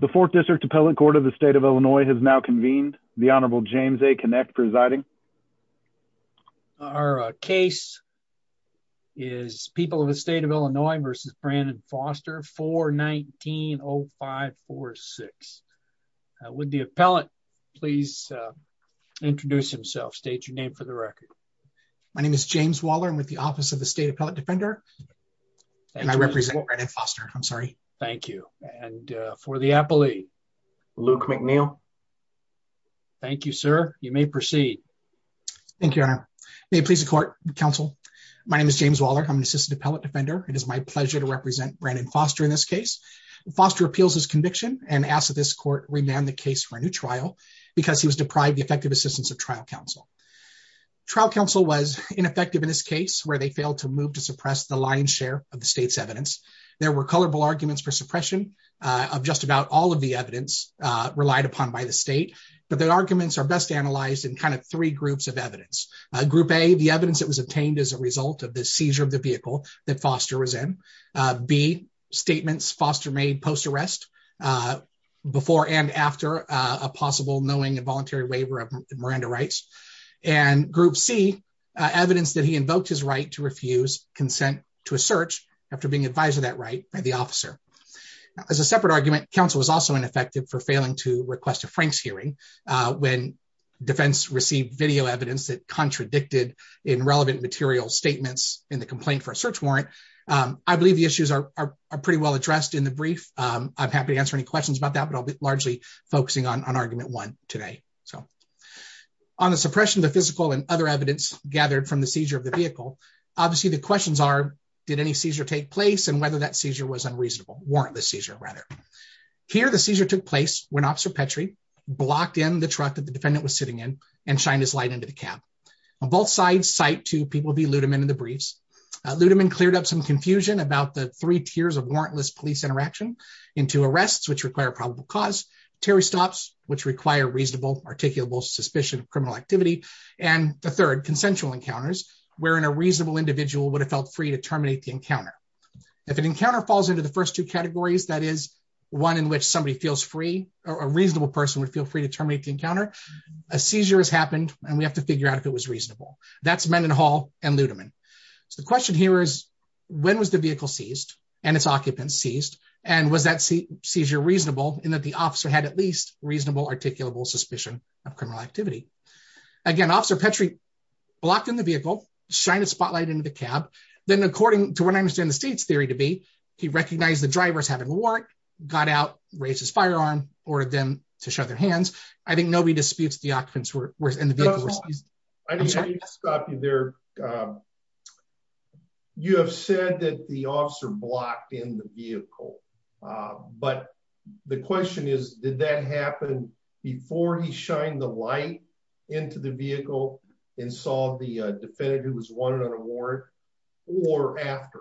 The Fourth District Appellate Court of the State of Illinois has now convened. The Honorable James A. Kinect presiding. Our case is People of the State of Illinois v. Brandon Foster 419-0546. Would the appellate please introduce himself, state your name for the record. My name is James Waller. I'm with the Office of the State Appellate Defender. And I represent Brandon Foster. I'm sorry. Thank you. And for the appellate, Luke McNeil. Thank you, sir. You may proceed. Thank you, Your Honor. May it please the court, counsel. My name is James Waller. I'm an assistant appellate defender. It is my pleasure to represent Brandon Foster in this case. Foster appeals his conviction and asks that this court remand the case for a new trial because he was deprived the effective assistance of trial counsel. Trial counsel was ineffective in this case where they failed to move to suppress the lion's share of the state's evidence. There were colorful arguments for suppression of just about all of the evidence relied upon by the state. But the arguments are best analyzed in kind of three groups of evidence. Group A, the evidence that was obtained as a result of the seizure of the vehicle that Foster was in. B, statements Foster made post-arrest before and after a possible knowing involuntary waiver of Miranda rights. And Group C, evidence that he invoked his right to refuse consent to a search after being advised of that right by the officer. As a separate argument, counsel was also ineffective for failing to request a Frank's hearing when defense received video evidence that contradicted in relevant material statements in the complaint for a search warrant. I believe the issues are pretty well addressed in the brief. I'm happy to answer any questions about that, but I'll be largely focusing on argument one today. So on the suppression of the physical and other evidence gathered from the seizure of the vehicle, the questions are, did any seizure take place and whether that seizure was unreasonable? Warrantless seizure, rather. Here, the seizure took place when Officer Petrie blocked in the truck that the defendant was sitting in and shined his light into the cab. Both sides cite two people, V. Ludeman, in the briefs. Ludeman cleared up some confusion about the three tiers of warrantless police interaction into arrests, which require probable cause, Terry stops, which require reasonable, articulable suspicion of criminal activity, and the third, consensual encounters, wherein a reasonable individual would have felt free to terminate the encounter. If an encounter falls into the first two categories, that is, one in which somebody feels free or a reasonable person would feel free to terminate the encounter, a seizure has happened and we have to figure out if it was reasonable. That's Mendenhall and Ludeman. So the question here is, when was the vehicle seized and its occupants seized? And was that seizure reasonable in that the officer had at least reasonable, articulable suspicion of criminal activity? Again, Officer Petrie blocked in the vehicle, shined a spotlight into the cab, then according to what I understand the state's theory to be, he recognized the drivers having a warrant, got out, raised his firearm, ordered them to shove their hands. I think nobody disputes the occupants were in the vehicle were seized. I need to stop you there. You have said that the officer blocked in the vehicle, but the question is, did that happen before he shined the light into the vehicle and saw the defendant who was wanted on a warrant or after?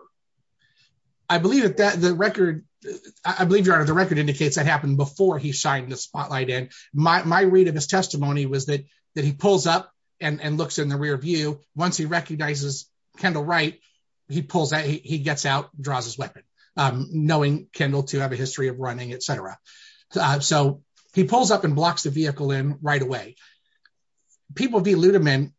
I believe that the record indicates that happened before he shined the spotlight in. My read of his testimony was that he pulls up and looks in the rear view. Once he recognizes Kendall Wright, he pulls out, he gets out, draws his weapon, knowing Kendall to have a history of running, etc. So he pulls up and blocks the vehicle in right away. People v. Ludeman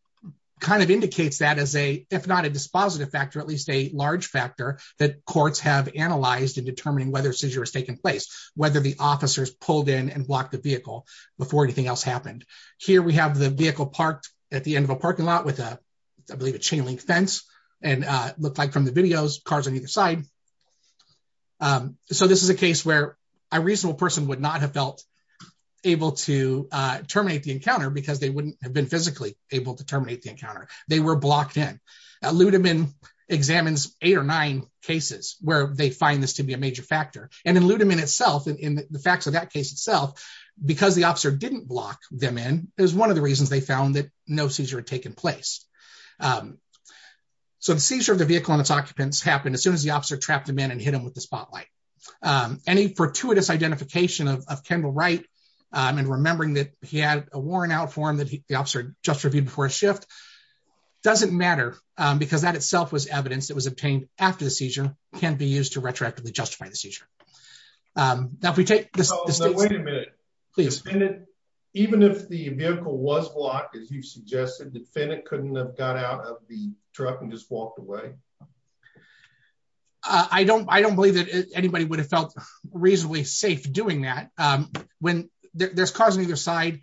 kind of indicates that as a, if not a dispositive factor, at least a large factor that courts have analyzed in determining whether seizure has taken place, whether the officers pulled in and blocked the vehicle before anything else happened. Here we have the vehicle parked at the end of a parking lot with a, I believe, chain link fence and look like from the videos cars on either side. So this is a case where a reasonable person would not have felt able to terminate the encounter because they wouldn't have been physically able to terminate the encounter. They were blocked in. Ludeman examines eight or nine cases where they find this to be a major factor. And in Ludeman itself, in the facts of that case itself, because the officer didn't block them in is one of the reasons they found that no seizure had taken place. So the seizure of the vehicle and its occupants happened as soon as the officer trapped him in and hit him with the spotlight. Any fortuitous identification of Kendall Wright and remembering that he had a warrant out for him that the officer just reviewed before his shift doesn't matter because that itself was evidence that was obtained after the seizure can be used to retroactively justify the seizure. Now if we take this... Please. Even if the vehicle was blocked, as you've suggested, defendant couldn't have got out of the truck and just walked away? I don't believe that anybody would have felt reasonably safe doing that when there's cars on either side.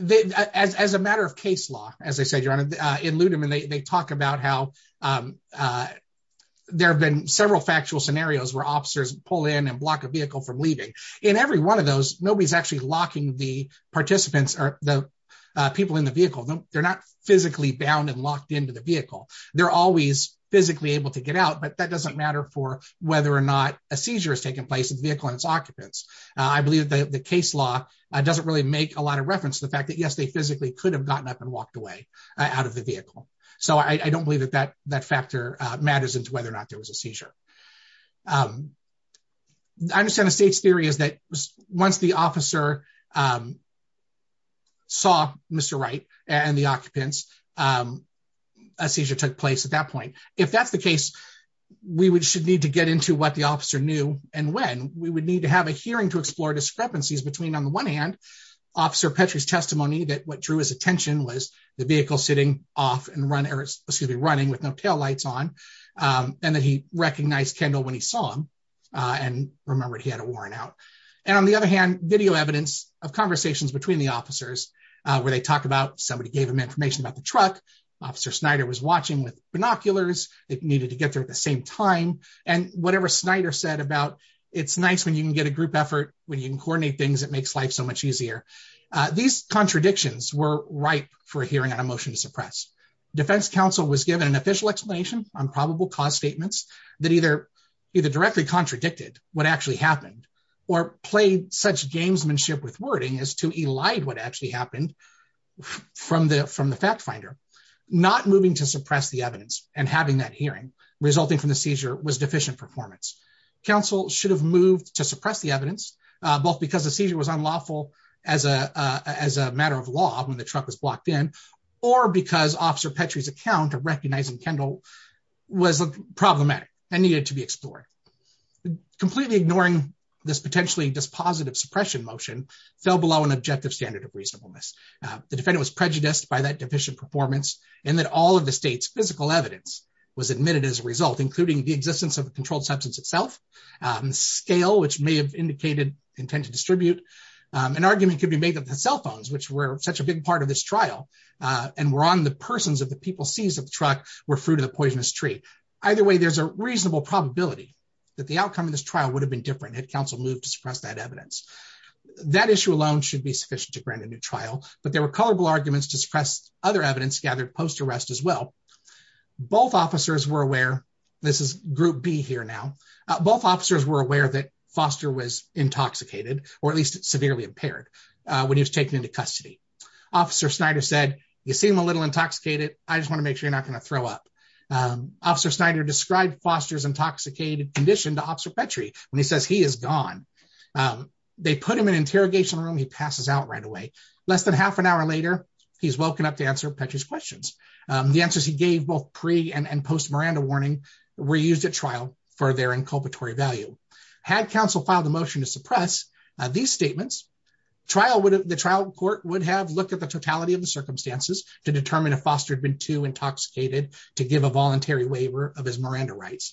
As a matter of case law, as I said, your honor, in Ludeman, they talk about how there have been several factual scenarios where officers pull in and block a vehicle from leaving. In every one of those, nobody's actually locking the participants or the people in the vehicle. They're not physically bound and locked into the vehicle. They're always physically able to get out, but that doesn't matter for whether or not a seizure has taken place in the vehicle and its occupants. I believe that the case law doesn't really make a lot of reference to the fact that, yes, they physically could have gotten up and walked away out of the vehicle. So I don't believe that factor matters into whether or not there was a seizure. I understand the state's theory is that once the officer saw Mr. Wright and the occupants, a seizure took place at that point. If that's the case, we should need to get into what the officer knew and when. We would need to have a hearing to explore discrepancies between, on the one hand, Officer Petrie's testimony that what drew his attention was the vehicle sitting off and running with no taillights on, and that he recognized Kendall when he saw him and remembered he had a warrant out. And on the other hand, video evidence of conversations between the officers where they talked about somebody gave them information about the truck, Officer Snyder was watching with binoculars that needed to get there at the same time, and whatever Snyder said about it's nice when you can get a group effort, when you can coordinate things, it makes life so much easier. These contradictions were ripe for a hearing on a defense counsel was given an official explanation on probable cause statements that either directly contradicted what actually happened or played such gamesmanship with wording as to elide what actually happened from the fact finder. Not moving to suppress the evidence and having that hearing resulting from the seizure was deficient performance. Counsel should have moved to suppress the evidence, both because the seizure was unlawful as a matter of law when the truck was blocked in, or because Officer Petrie's account of recognizing Kendall was problematic and needed to be explored. Completely ignoring this potentially dispositive suppression motion fell below an objective standard of reasonableness. The defendant was prejudiced by that deficient performance and that all of the state's physical evidence was admitted as a result, including the existence of the controlled substance itself, scale which may have indicated intent to distribute, an argument could be made that the cell phones which were such a big part of this trial and were on the persons of the people seized of the truck were fruit of the poisonous tree. Either way, there's a reasonable probability that the outcome of this trial would have been different had counsel moved to suppress that evidence. That issue alone should be sufficient to grant a new trial, but there were colorful arguments to suppress other evidence gathered post-arrest as well. Both officers were aware, this is group B here now, both officers were aware that Foster was intoxicated or at least severely impaired when he was taken into custody. Officer Snyder said, you seem a little intoxicated, I just want to make sure you're not going to throw up. Officer Snyder described Foster's intoxicated condition to Officer Petrie when he says he is gone. They put him in interrogation room, he passes out right away. Less than half an hour later, he's woken up to answer Petrie's questions. The answers he gave both pre and post Miranda warning were used at trial for their inculpatory value. Had counsel filed a motion to suppress these statements, the trial court would have looked at the totality of the circumstances to determine if Foster had been too intoxicated to give a voluntary waiver of his Miranda rights.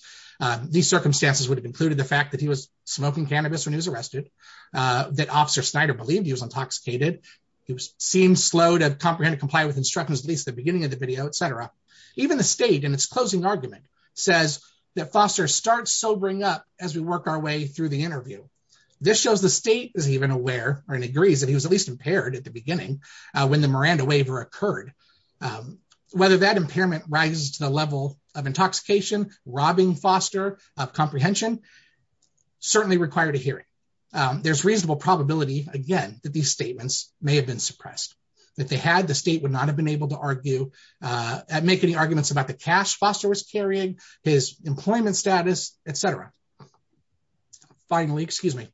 These circumstances would have included the fact that he was smoking cannabis when he was arrested, that Officer Snyder believed he was intoxicated, he seemed slow to comprehend and comply with instructions at least at the beginning of the video, etc. Even the state in its closing argument says that Foster starts sobering up as we work our way through the interview. This shows the state is even aware or agrees that he was at least impaired at the beginning when the Miranda waiver occurred. Whether that impairment rises to the level of intoxication, robbing Foster of comprehension, certainly required a hearing. There's reasonable probability, again, that these statements may have been suppressed. If they had, the state would not have been able to argue, make any arguments about the cash Foster was carrying, his employment status, etc. Finally, excuse me,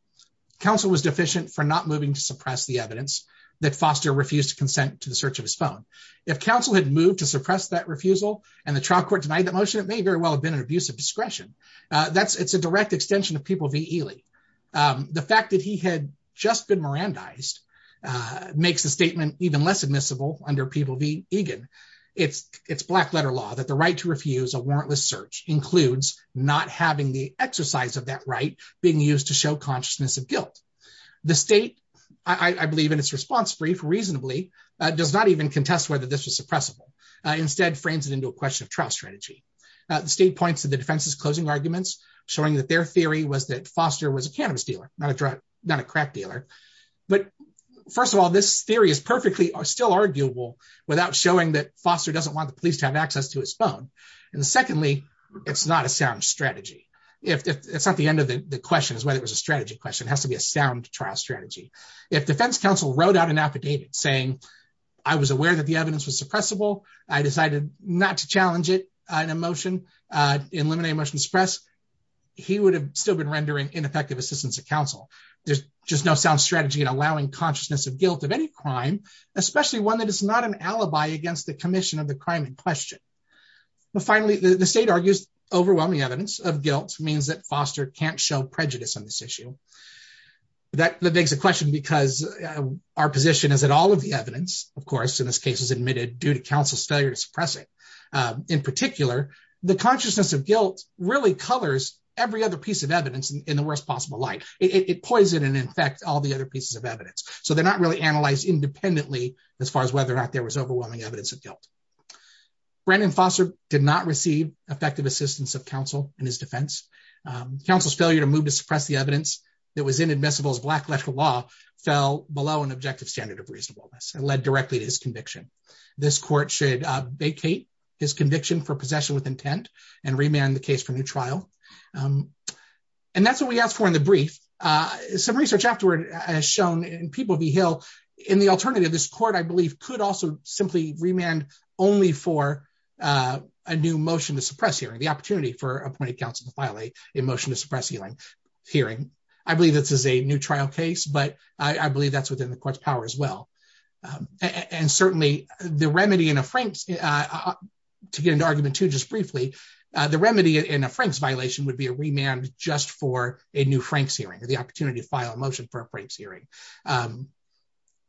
counsel was deficient for not moving to suppress the evidence that Foster refused to consent to the search of his phone. If counsel had moved to suppress that refusal and the trial court denied that motion, it may very well have been an abuse of discretion. That's, it's a direct extension of People v. Ely. The fact that he had just been Mirandized makes the statement even less admissible under People v. Egan. It's black letter law that the right to refuse a warrantless search includes not having the exercise of that right being used to show consciousness of guilt. The state, I believe in its response brief reasonably, does not even contest whether this was suppressible. Instead frames it into a question of trial strategy. The state points to the defense's closing arguments, showing that their But first of all, this theory is perfectly still arguable without showing that Foster doesn't want the police to have access to his phone. And secondly, it's not a sound strategy. If it's not the end of the question is whether it was a strategy question has to be a sound trial strategy. If defense counsel wrote out an affidavit saying, I was aware that the evidence was suppressible, I decided not to challenge it, an emotion, eliminate emotion suppress, he would have still rendering ineffective assistance to counsel. There's just no sound strategy in allowing consciousness of guilt of any crime, especially one that is not an alibi against the commission of the crime in question. But finally, the state argues overwhelming evidence of guilt means that Foster can't show prejudice on this issue. That begs the question, because our position is that all of the evidence, of course, in this case is admitted due to counsel's failure to suppress it. In particular, the consciousness of guilt really colors every other piece of evidence in the worst possible light, it poison and infect all the other pieces of evidence. So they're not really analyzed independently, as far as whether or not there was overwhelming evidence of guilt. Brandon Foster did not receive effective assistance of counsel in his defense, counsel's failure to move to suppress the evidence that was inadmissible as black electrical law fell below an objective standard of reasonableness and led directly to his conviction. This court should vacate his conviction for possession with intent and remand the case for new trial. And that's what we asked for in the brief. Some research afterward, as shown in People v. Hill, in the alternative, this court, I believe, could also simply remand only for a new motion to suppress hearing, the opportunity for appointed counsel to file a motion to suppress hearing. I believe this is a new trial case, but I believe that's within the court's power as well. And certainly, the remedy in a frame, to get into argument two just briefly, the remedy in a Frank's violation would be a remand just for a new Frank's hearing or the opportunity to file a motion for a Frank's hearing.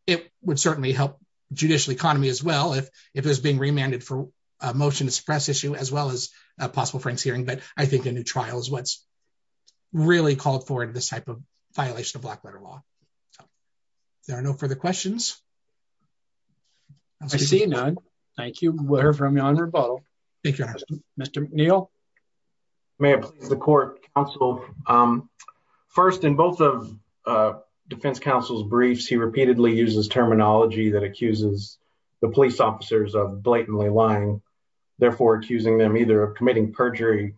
It would certainly help judicial economy as well, if it was being remanded for a motion to suppress issue as well as a possible Frank's hearing. But I think a new trial is what's really called forward this type of violation of black letter law. There are no further questions. I see none. Thank you, we'll hear from you on rebuttal. Mr. McNeil. May it please the court, counsel. First, in both of defense counsel's briefs, he repeatedly uses terminology that accuses the police officers of blatantly lying, therefore accusing them either of committing perjury,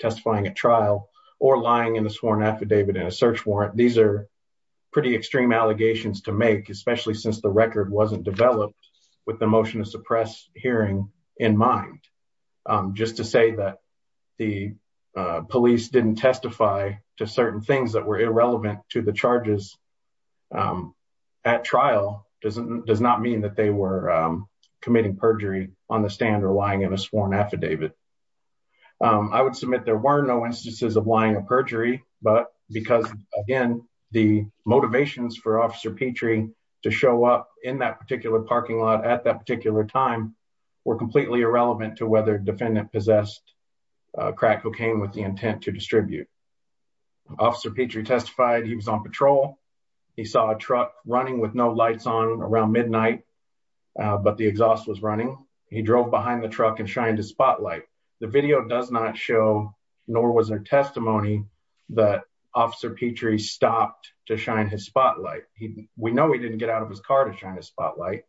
testifying at trial, or lying in a sworn affidavit in a search warrant. These are pretty extreme allegations to make, especially since the record wasn't developed with the motion to suppress hearing in mind. Just to say that the police didn't testify to certain things that were irrelevant to the charges at trial does not mean that they were committing perjury on the stand or lying in a sworn affidavit. I would submit there were no instances of lying or perjury, but because again, the to show up in that particular parking lot at that particular time were completely irrelevant to whether defendant possessed crack cocaine with the intent to distribute. Officer Petrie testified he was on patrol. He saw a truck running with no lights on around midnight, but the exhaust was running. He drove behind the truck and shined his spotlight. The video does not show, nor was there testimony, that Officer Petrie stopped to shine his spotlight. We know he didn't get out of his car to shine his spotlight,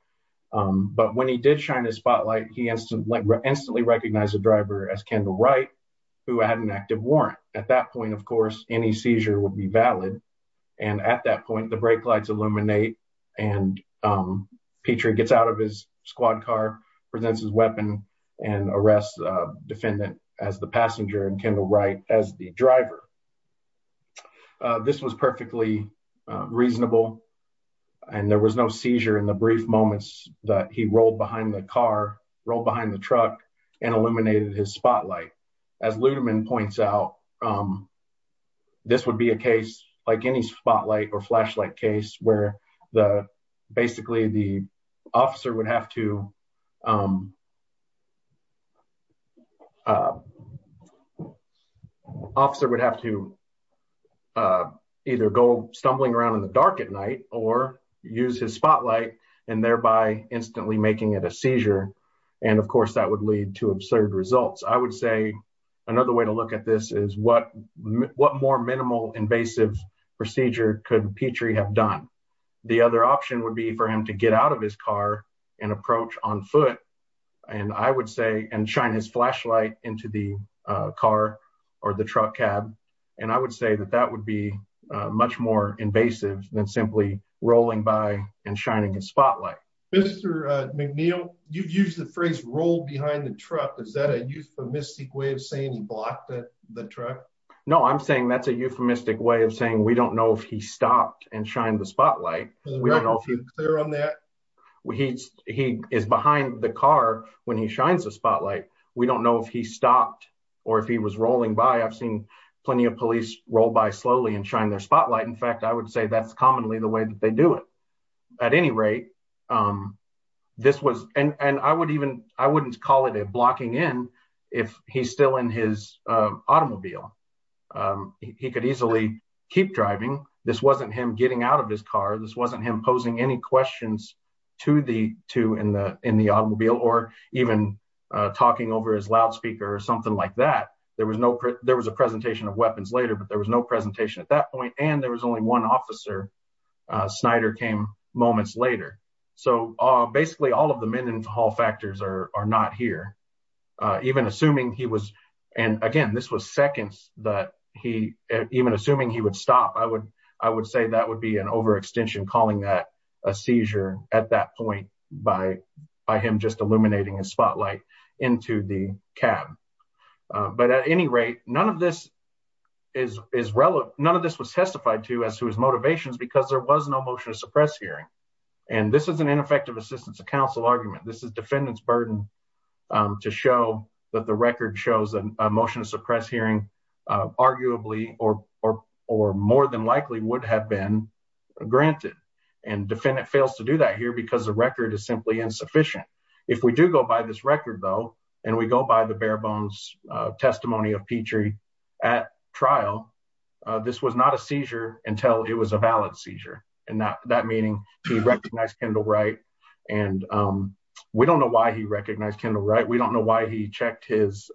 but when he did shine his spotlight, he instantly recognized the driver as Kendall Wright, who had an active warrant. At that point, of course, any seizure would be valid, and at that point, the brake lights illuminate, and Petrie gets out of his squad car, presents his weapon, and arrests defendant as the passenger and Kendall Wright as the driver. This was perfectly reasonable, and there was no seizure in the brief moments that he rolled behind the car, rolled behind the truck, and illuminated his spotlight. As Ludeman points out, this would be a case like any spotlight or flashlight case where basically the officer would have to either go stumbling around in the dark at night or use his spotlight and thereby instantly making it a seizure, and of course that would lead to absurd results. I would say another way to look at this is what more minimal invasive procedure could Petrie have done? The other option would be for him to get out of his car and approach on foot and shine his flashlight into the car or the truck cab, and I would say that that would be much more invasive than simply rolling by and shining his spotlight. Mr. McNeil, you've used the phrase roll behind the truck. Is that a euphemistic way of saying he blocked the truck? No, I'm saying that's a euphemistic. He is behind the car when he shines the spotlight. We don't know if he stopped or if he was rolling by. I've seen plenty of police roll by slowly and shine their spotlight. In fact, I would say that's commonly the way that they do it. At any rate, I wouldn't call it blocking in if he's still in his automobile. He could easily keep driving. This wasn't him getting out of his car. This wasn't him posing any questions to the two in the automobile or even talking over his loudspeaker or something like that. There was a presentation of weapons later, but there was no presentation at that point, and there was only one officer. Snyder came moments later. Basically, all of the men in the hall factors are not here. Even assuming he would stop, I would say that would be an overextension calling that a seizure at that point by him just illuminating his spotlight into the cab. At any rate, none of this was testified to as to his motivations because there was no motion to suppress hearing. This is an ineffective assistance to counsel argument. This is a defendant's burden to show that the record shows that a motion to suppress hearing arguably or more than likely would have been granted. Defendant fails to do that here because the record is simply insufficient. If we do go by this record, though, and we go by the bare bones testimony of Petrie at trial, this was not a seizure until it was a valid seizure. That meaning he recognized Kendall Wright. We don't know why he recognized Kendall Wright. We don't know why he checked his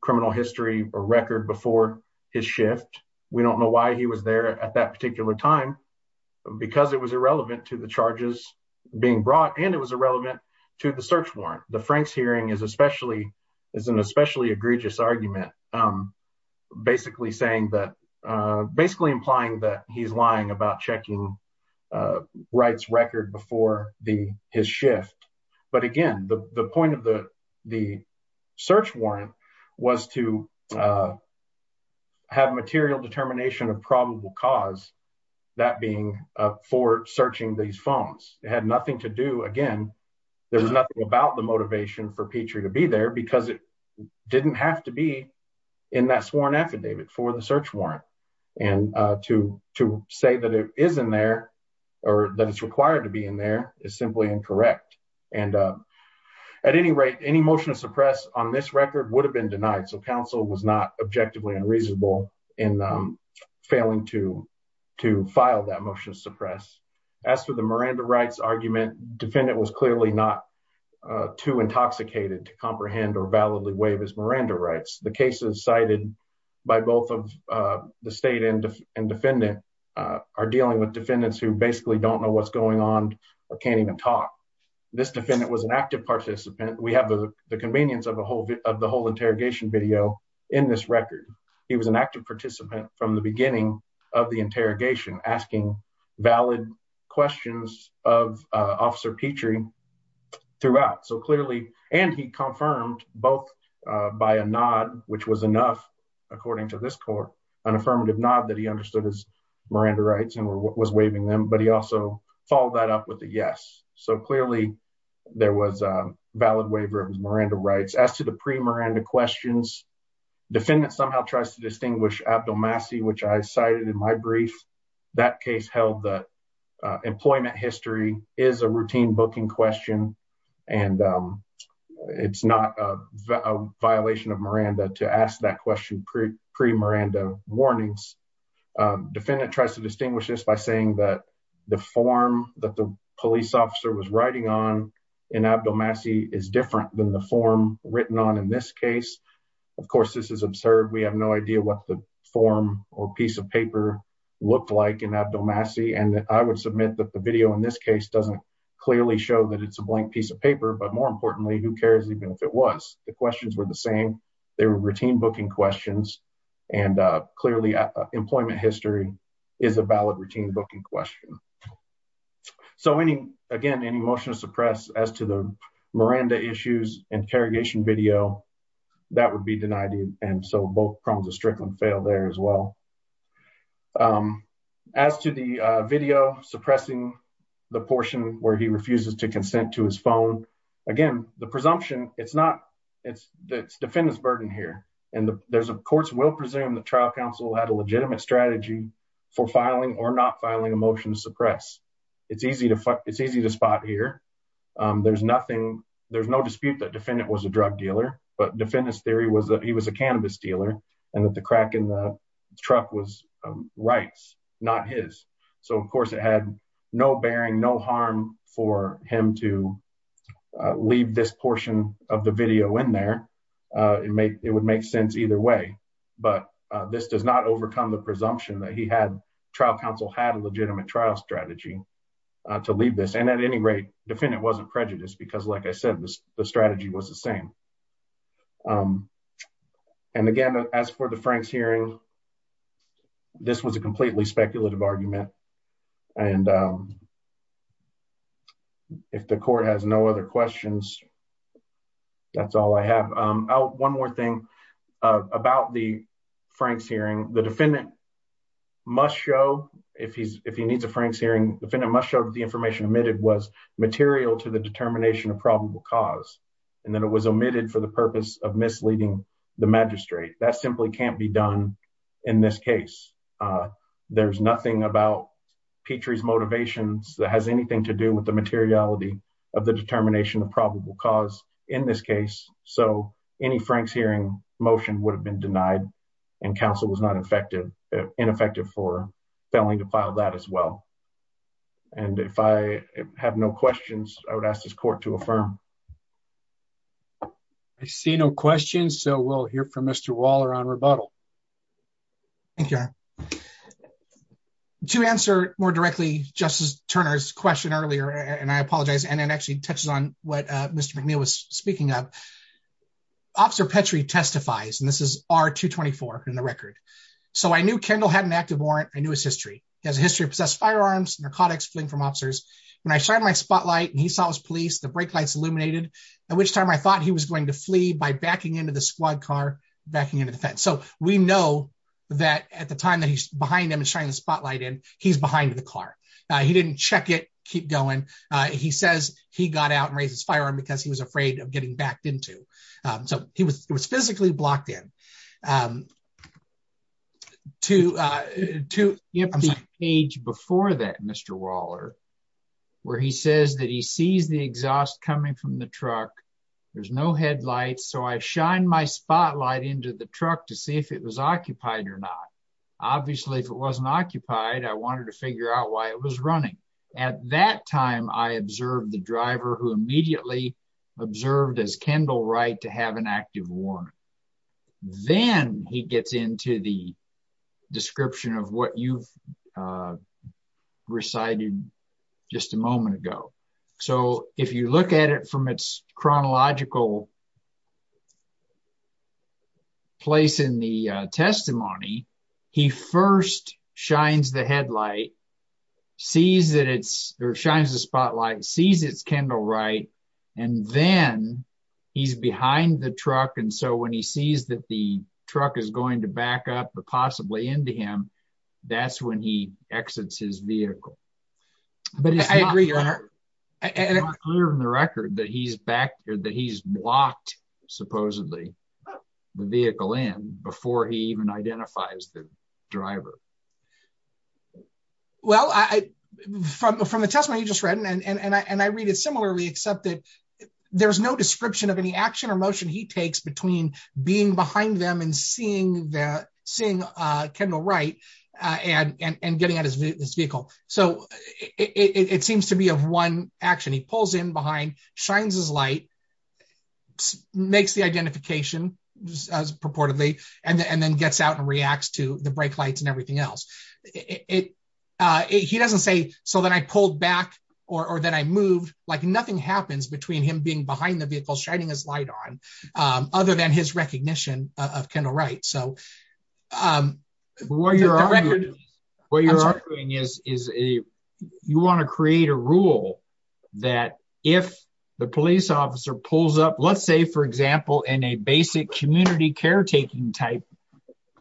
criminal history or record before his shift. We don't know why he was there at that particular time because it was irrelevant to the charges being brought, and it was irrelevant to the search warrant. The Franks hearing is an especially egregious argument, basically implying that he's lying about checking Wright's record before his shift. But, again, the point of the search warrant was to have material determination of probable cause, that being for searching these phones. It had nothing to do, again, there's nothing about motivation for Petrie to be there because it didn't have to be in that sworn affidavit for the search warrant. To say that it is in there or that it's required to be in there is simply incorrect. At any rate, any motion to suppress on this record would have been denied, so counsel was not objectively unreasonable in failing to file that motion to suppress. As for the Miranda argument, the defendant was clearly not too intoxicated to comprehend or validly waive his Miranda rights. The cases cited by both the state and defendant are dealing with defendants who basically don't know what's going on or can't even talk. This defendant was an active participant. We have the convenience of the whole interrogation video in this record. He was an active participant from the beginning of the interrogation, asking valid questions of Officer Petrie throughout. He confirmed both by a nod, which was enough according to this court, an affirmative nod that he understood his Miranda rights and was waiving them, but he also followed that up with a yes. Clearly, there was a valid waiver of his Miranda rights. As to the pre-Miranda questions, the defendant somehow tries to distinguish Abdul Masih, which I cited in my brief. That case held that employment history is a routine booking question and it's not a violation of Miranda to ask that question pre-Miranda warnings. The defendant tries to distinguish this by saying that the form that the police officer was writing on in Abdul Masih is different than the form written on in this case. Of course, this is absurd. We have no idea what the form or piece of paper looked like in Abdul Masih. I would submit that the video in this case doesn't clearly show that it's a blank piece of paper, but more importantly, who cares even if it was? The questions were the same. They were routine booking questions. Clearly, employment history is a valid routine booking question. Again, any motion to suppress as to the Miranda issues interrogation video, that would be denied. Both problems of Strickland fail there as well. As to the video suppressing the portion where he refuses to consent to his phone, again, the presumption, it's the defendant's burden here. The courts will presume the trial had a legitimate strategy for filing or not filing a motion to suppress. It's easy to spot here. There's no dispute that defendant was a drug dealer, but defendant's theory was that he was a cannabis dealer and that the crack in the truck was Wright's, not his. Of course, it had no bearing, no harm for him to leave this portion of the video in there. It would make sense either way, but this does not overcome the presumption that trial counsel had a legitimate trial strategy to leave this. At any rate, defendant wasn't prejudiced because like I said, the strategy was the same. Again, as for the Franks hearing, this was a completely speculative argument. If the court has no other questions, that's all I have. One more thing about the Franks hearing, the defendant must show, if he needs a Franks hearing, defendant must show that the information omitted was material to the determination of probable cause and that it was omitted for the purpose of misleading the magistrate. That simply can't be done in this case. There's nothing about Petrie's motivations that has anything to do with the materiality of the determination of probable cause in this case, so any Franks hearing motion would have been denied and counsel was not ineffective for failing to file that as well. If I have no questions, I would ask this court to affirm. I see no questions, so we'll hear from Mr. Waller on rebuttal. Thank you, Your Honor. To answer more directly Justice Turner's question earlier, and I apologize, and it actually touches on what Mr. McNeil was speaking of, Officer Petrie testifies, and this is R-224 in the record. So, I knew Kendall had an active warrant. I knew his history. He has a history of possessed firearms, narcotics, fleeing from officers. When I shined my spotlight and he saw his police, the brake lights illuminated, at which time I thought he was going to run. We know that at the time that he's behind him and shining the spotlight in, he's behind the car. He didn't check it, keep going. He says he got out and raised his firearm because he was afraid of getting backed into. So, he was physically blocked in. You have the page before that, Mr. Waller, where he says that he sees the exhaust coming from the occupier. Obviously, if it wasn't occupied, I wanted to figure out why it was running. At that time, I observed the driver who immediately observed as Kendall Wright to have an active warrant. Then he gets into the description of what you've recited just a moment ago. If you look at it from its chronological place in the testimony, he first shines the spotlight, sees it's Kendall Wright, and then he's behind the truck. So, when he sees that the truck is going to back up, but possibly into him, that's when he exits his vehicle. But it's not clear from the record that he's blocked, supposedly, the vehicle in before he even identifies the driver. Well, from the testimony you just read, and I read it similarly, except that there's no description of any action or motion he takes between being behind them and seeing Kendall Wright and getting out of his vehicle. So, it seems to be of one action. He pulls in behind, shines his light, makes the identification, as purportedly, and then gets out and reacts to the brake lights and everything else. He doesn't say, so then I pulled back or then I moved, like nothing happens between him being behind the vehicle shining his light on, other than his recognition of Kendall Wright. What you're arguing is you want to create a rule that if the police officer pulls up, let's say, for example, in a basic community caretaking type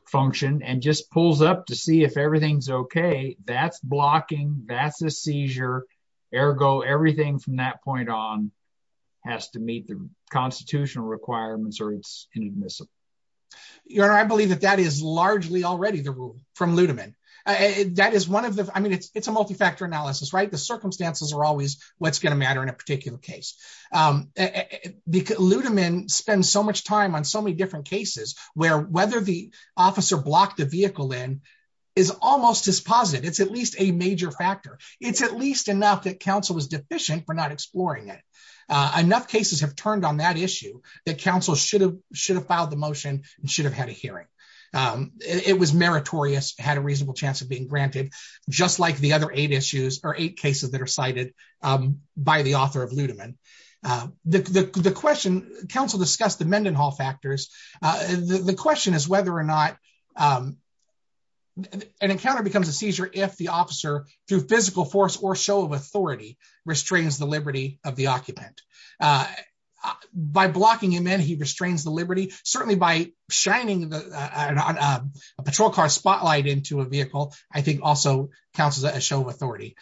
function and just pulls up to see if everything's okay, that's blocking, that's a seizure. Ergo, everything from that point on has to meet the constitutional requirements or it's inadmissible. Your Honor, I believe that that is largely already the rule from Ludeman. That is one of the, I mean, it's a multi-factor analysis, right? The circumstances are always what's going to matter in a particular case. Ludeman spends so much time on so many different cases where whether the officer blocked the vehicle in is almost as positive. It's at least a major factor. It's at enough cases have turned on that issue that counsel should have filed the motion and should have had a hearing. It was meritorious, had a reasonable chance of being granted, just like the other eight issues or eight cases that are cited by the author of Ludeman. The question, counsel discussed the Mendenhall factors. The question is whether or not an encounter becomes a seizure if the officer, through physical force or show of authority, restrains the liberty of the occupant. By blocking him in, he restrains the liberty. Certainly by shining a patrol car spotlight into a vehicle, I think also counts as a show of authority.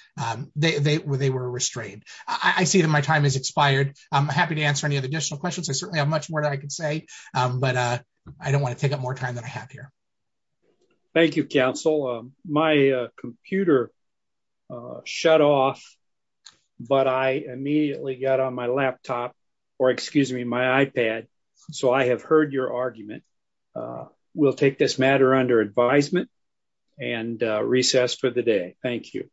They were restrained. I see that my time has expired. I'm happy to answer any other additional questions. I certainly have much more that I can say, but I don't want to take up more time than I have here. Thank you, counsel. My computer shut off, but I immediately got on my laptop, or excuse me, my iPad, so I have heard your argument. We'll take this matter under advisement and recess for the day. Thank you.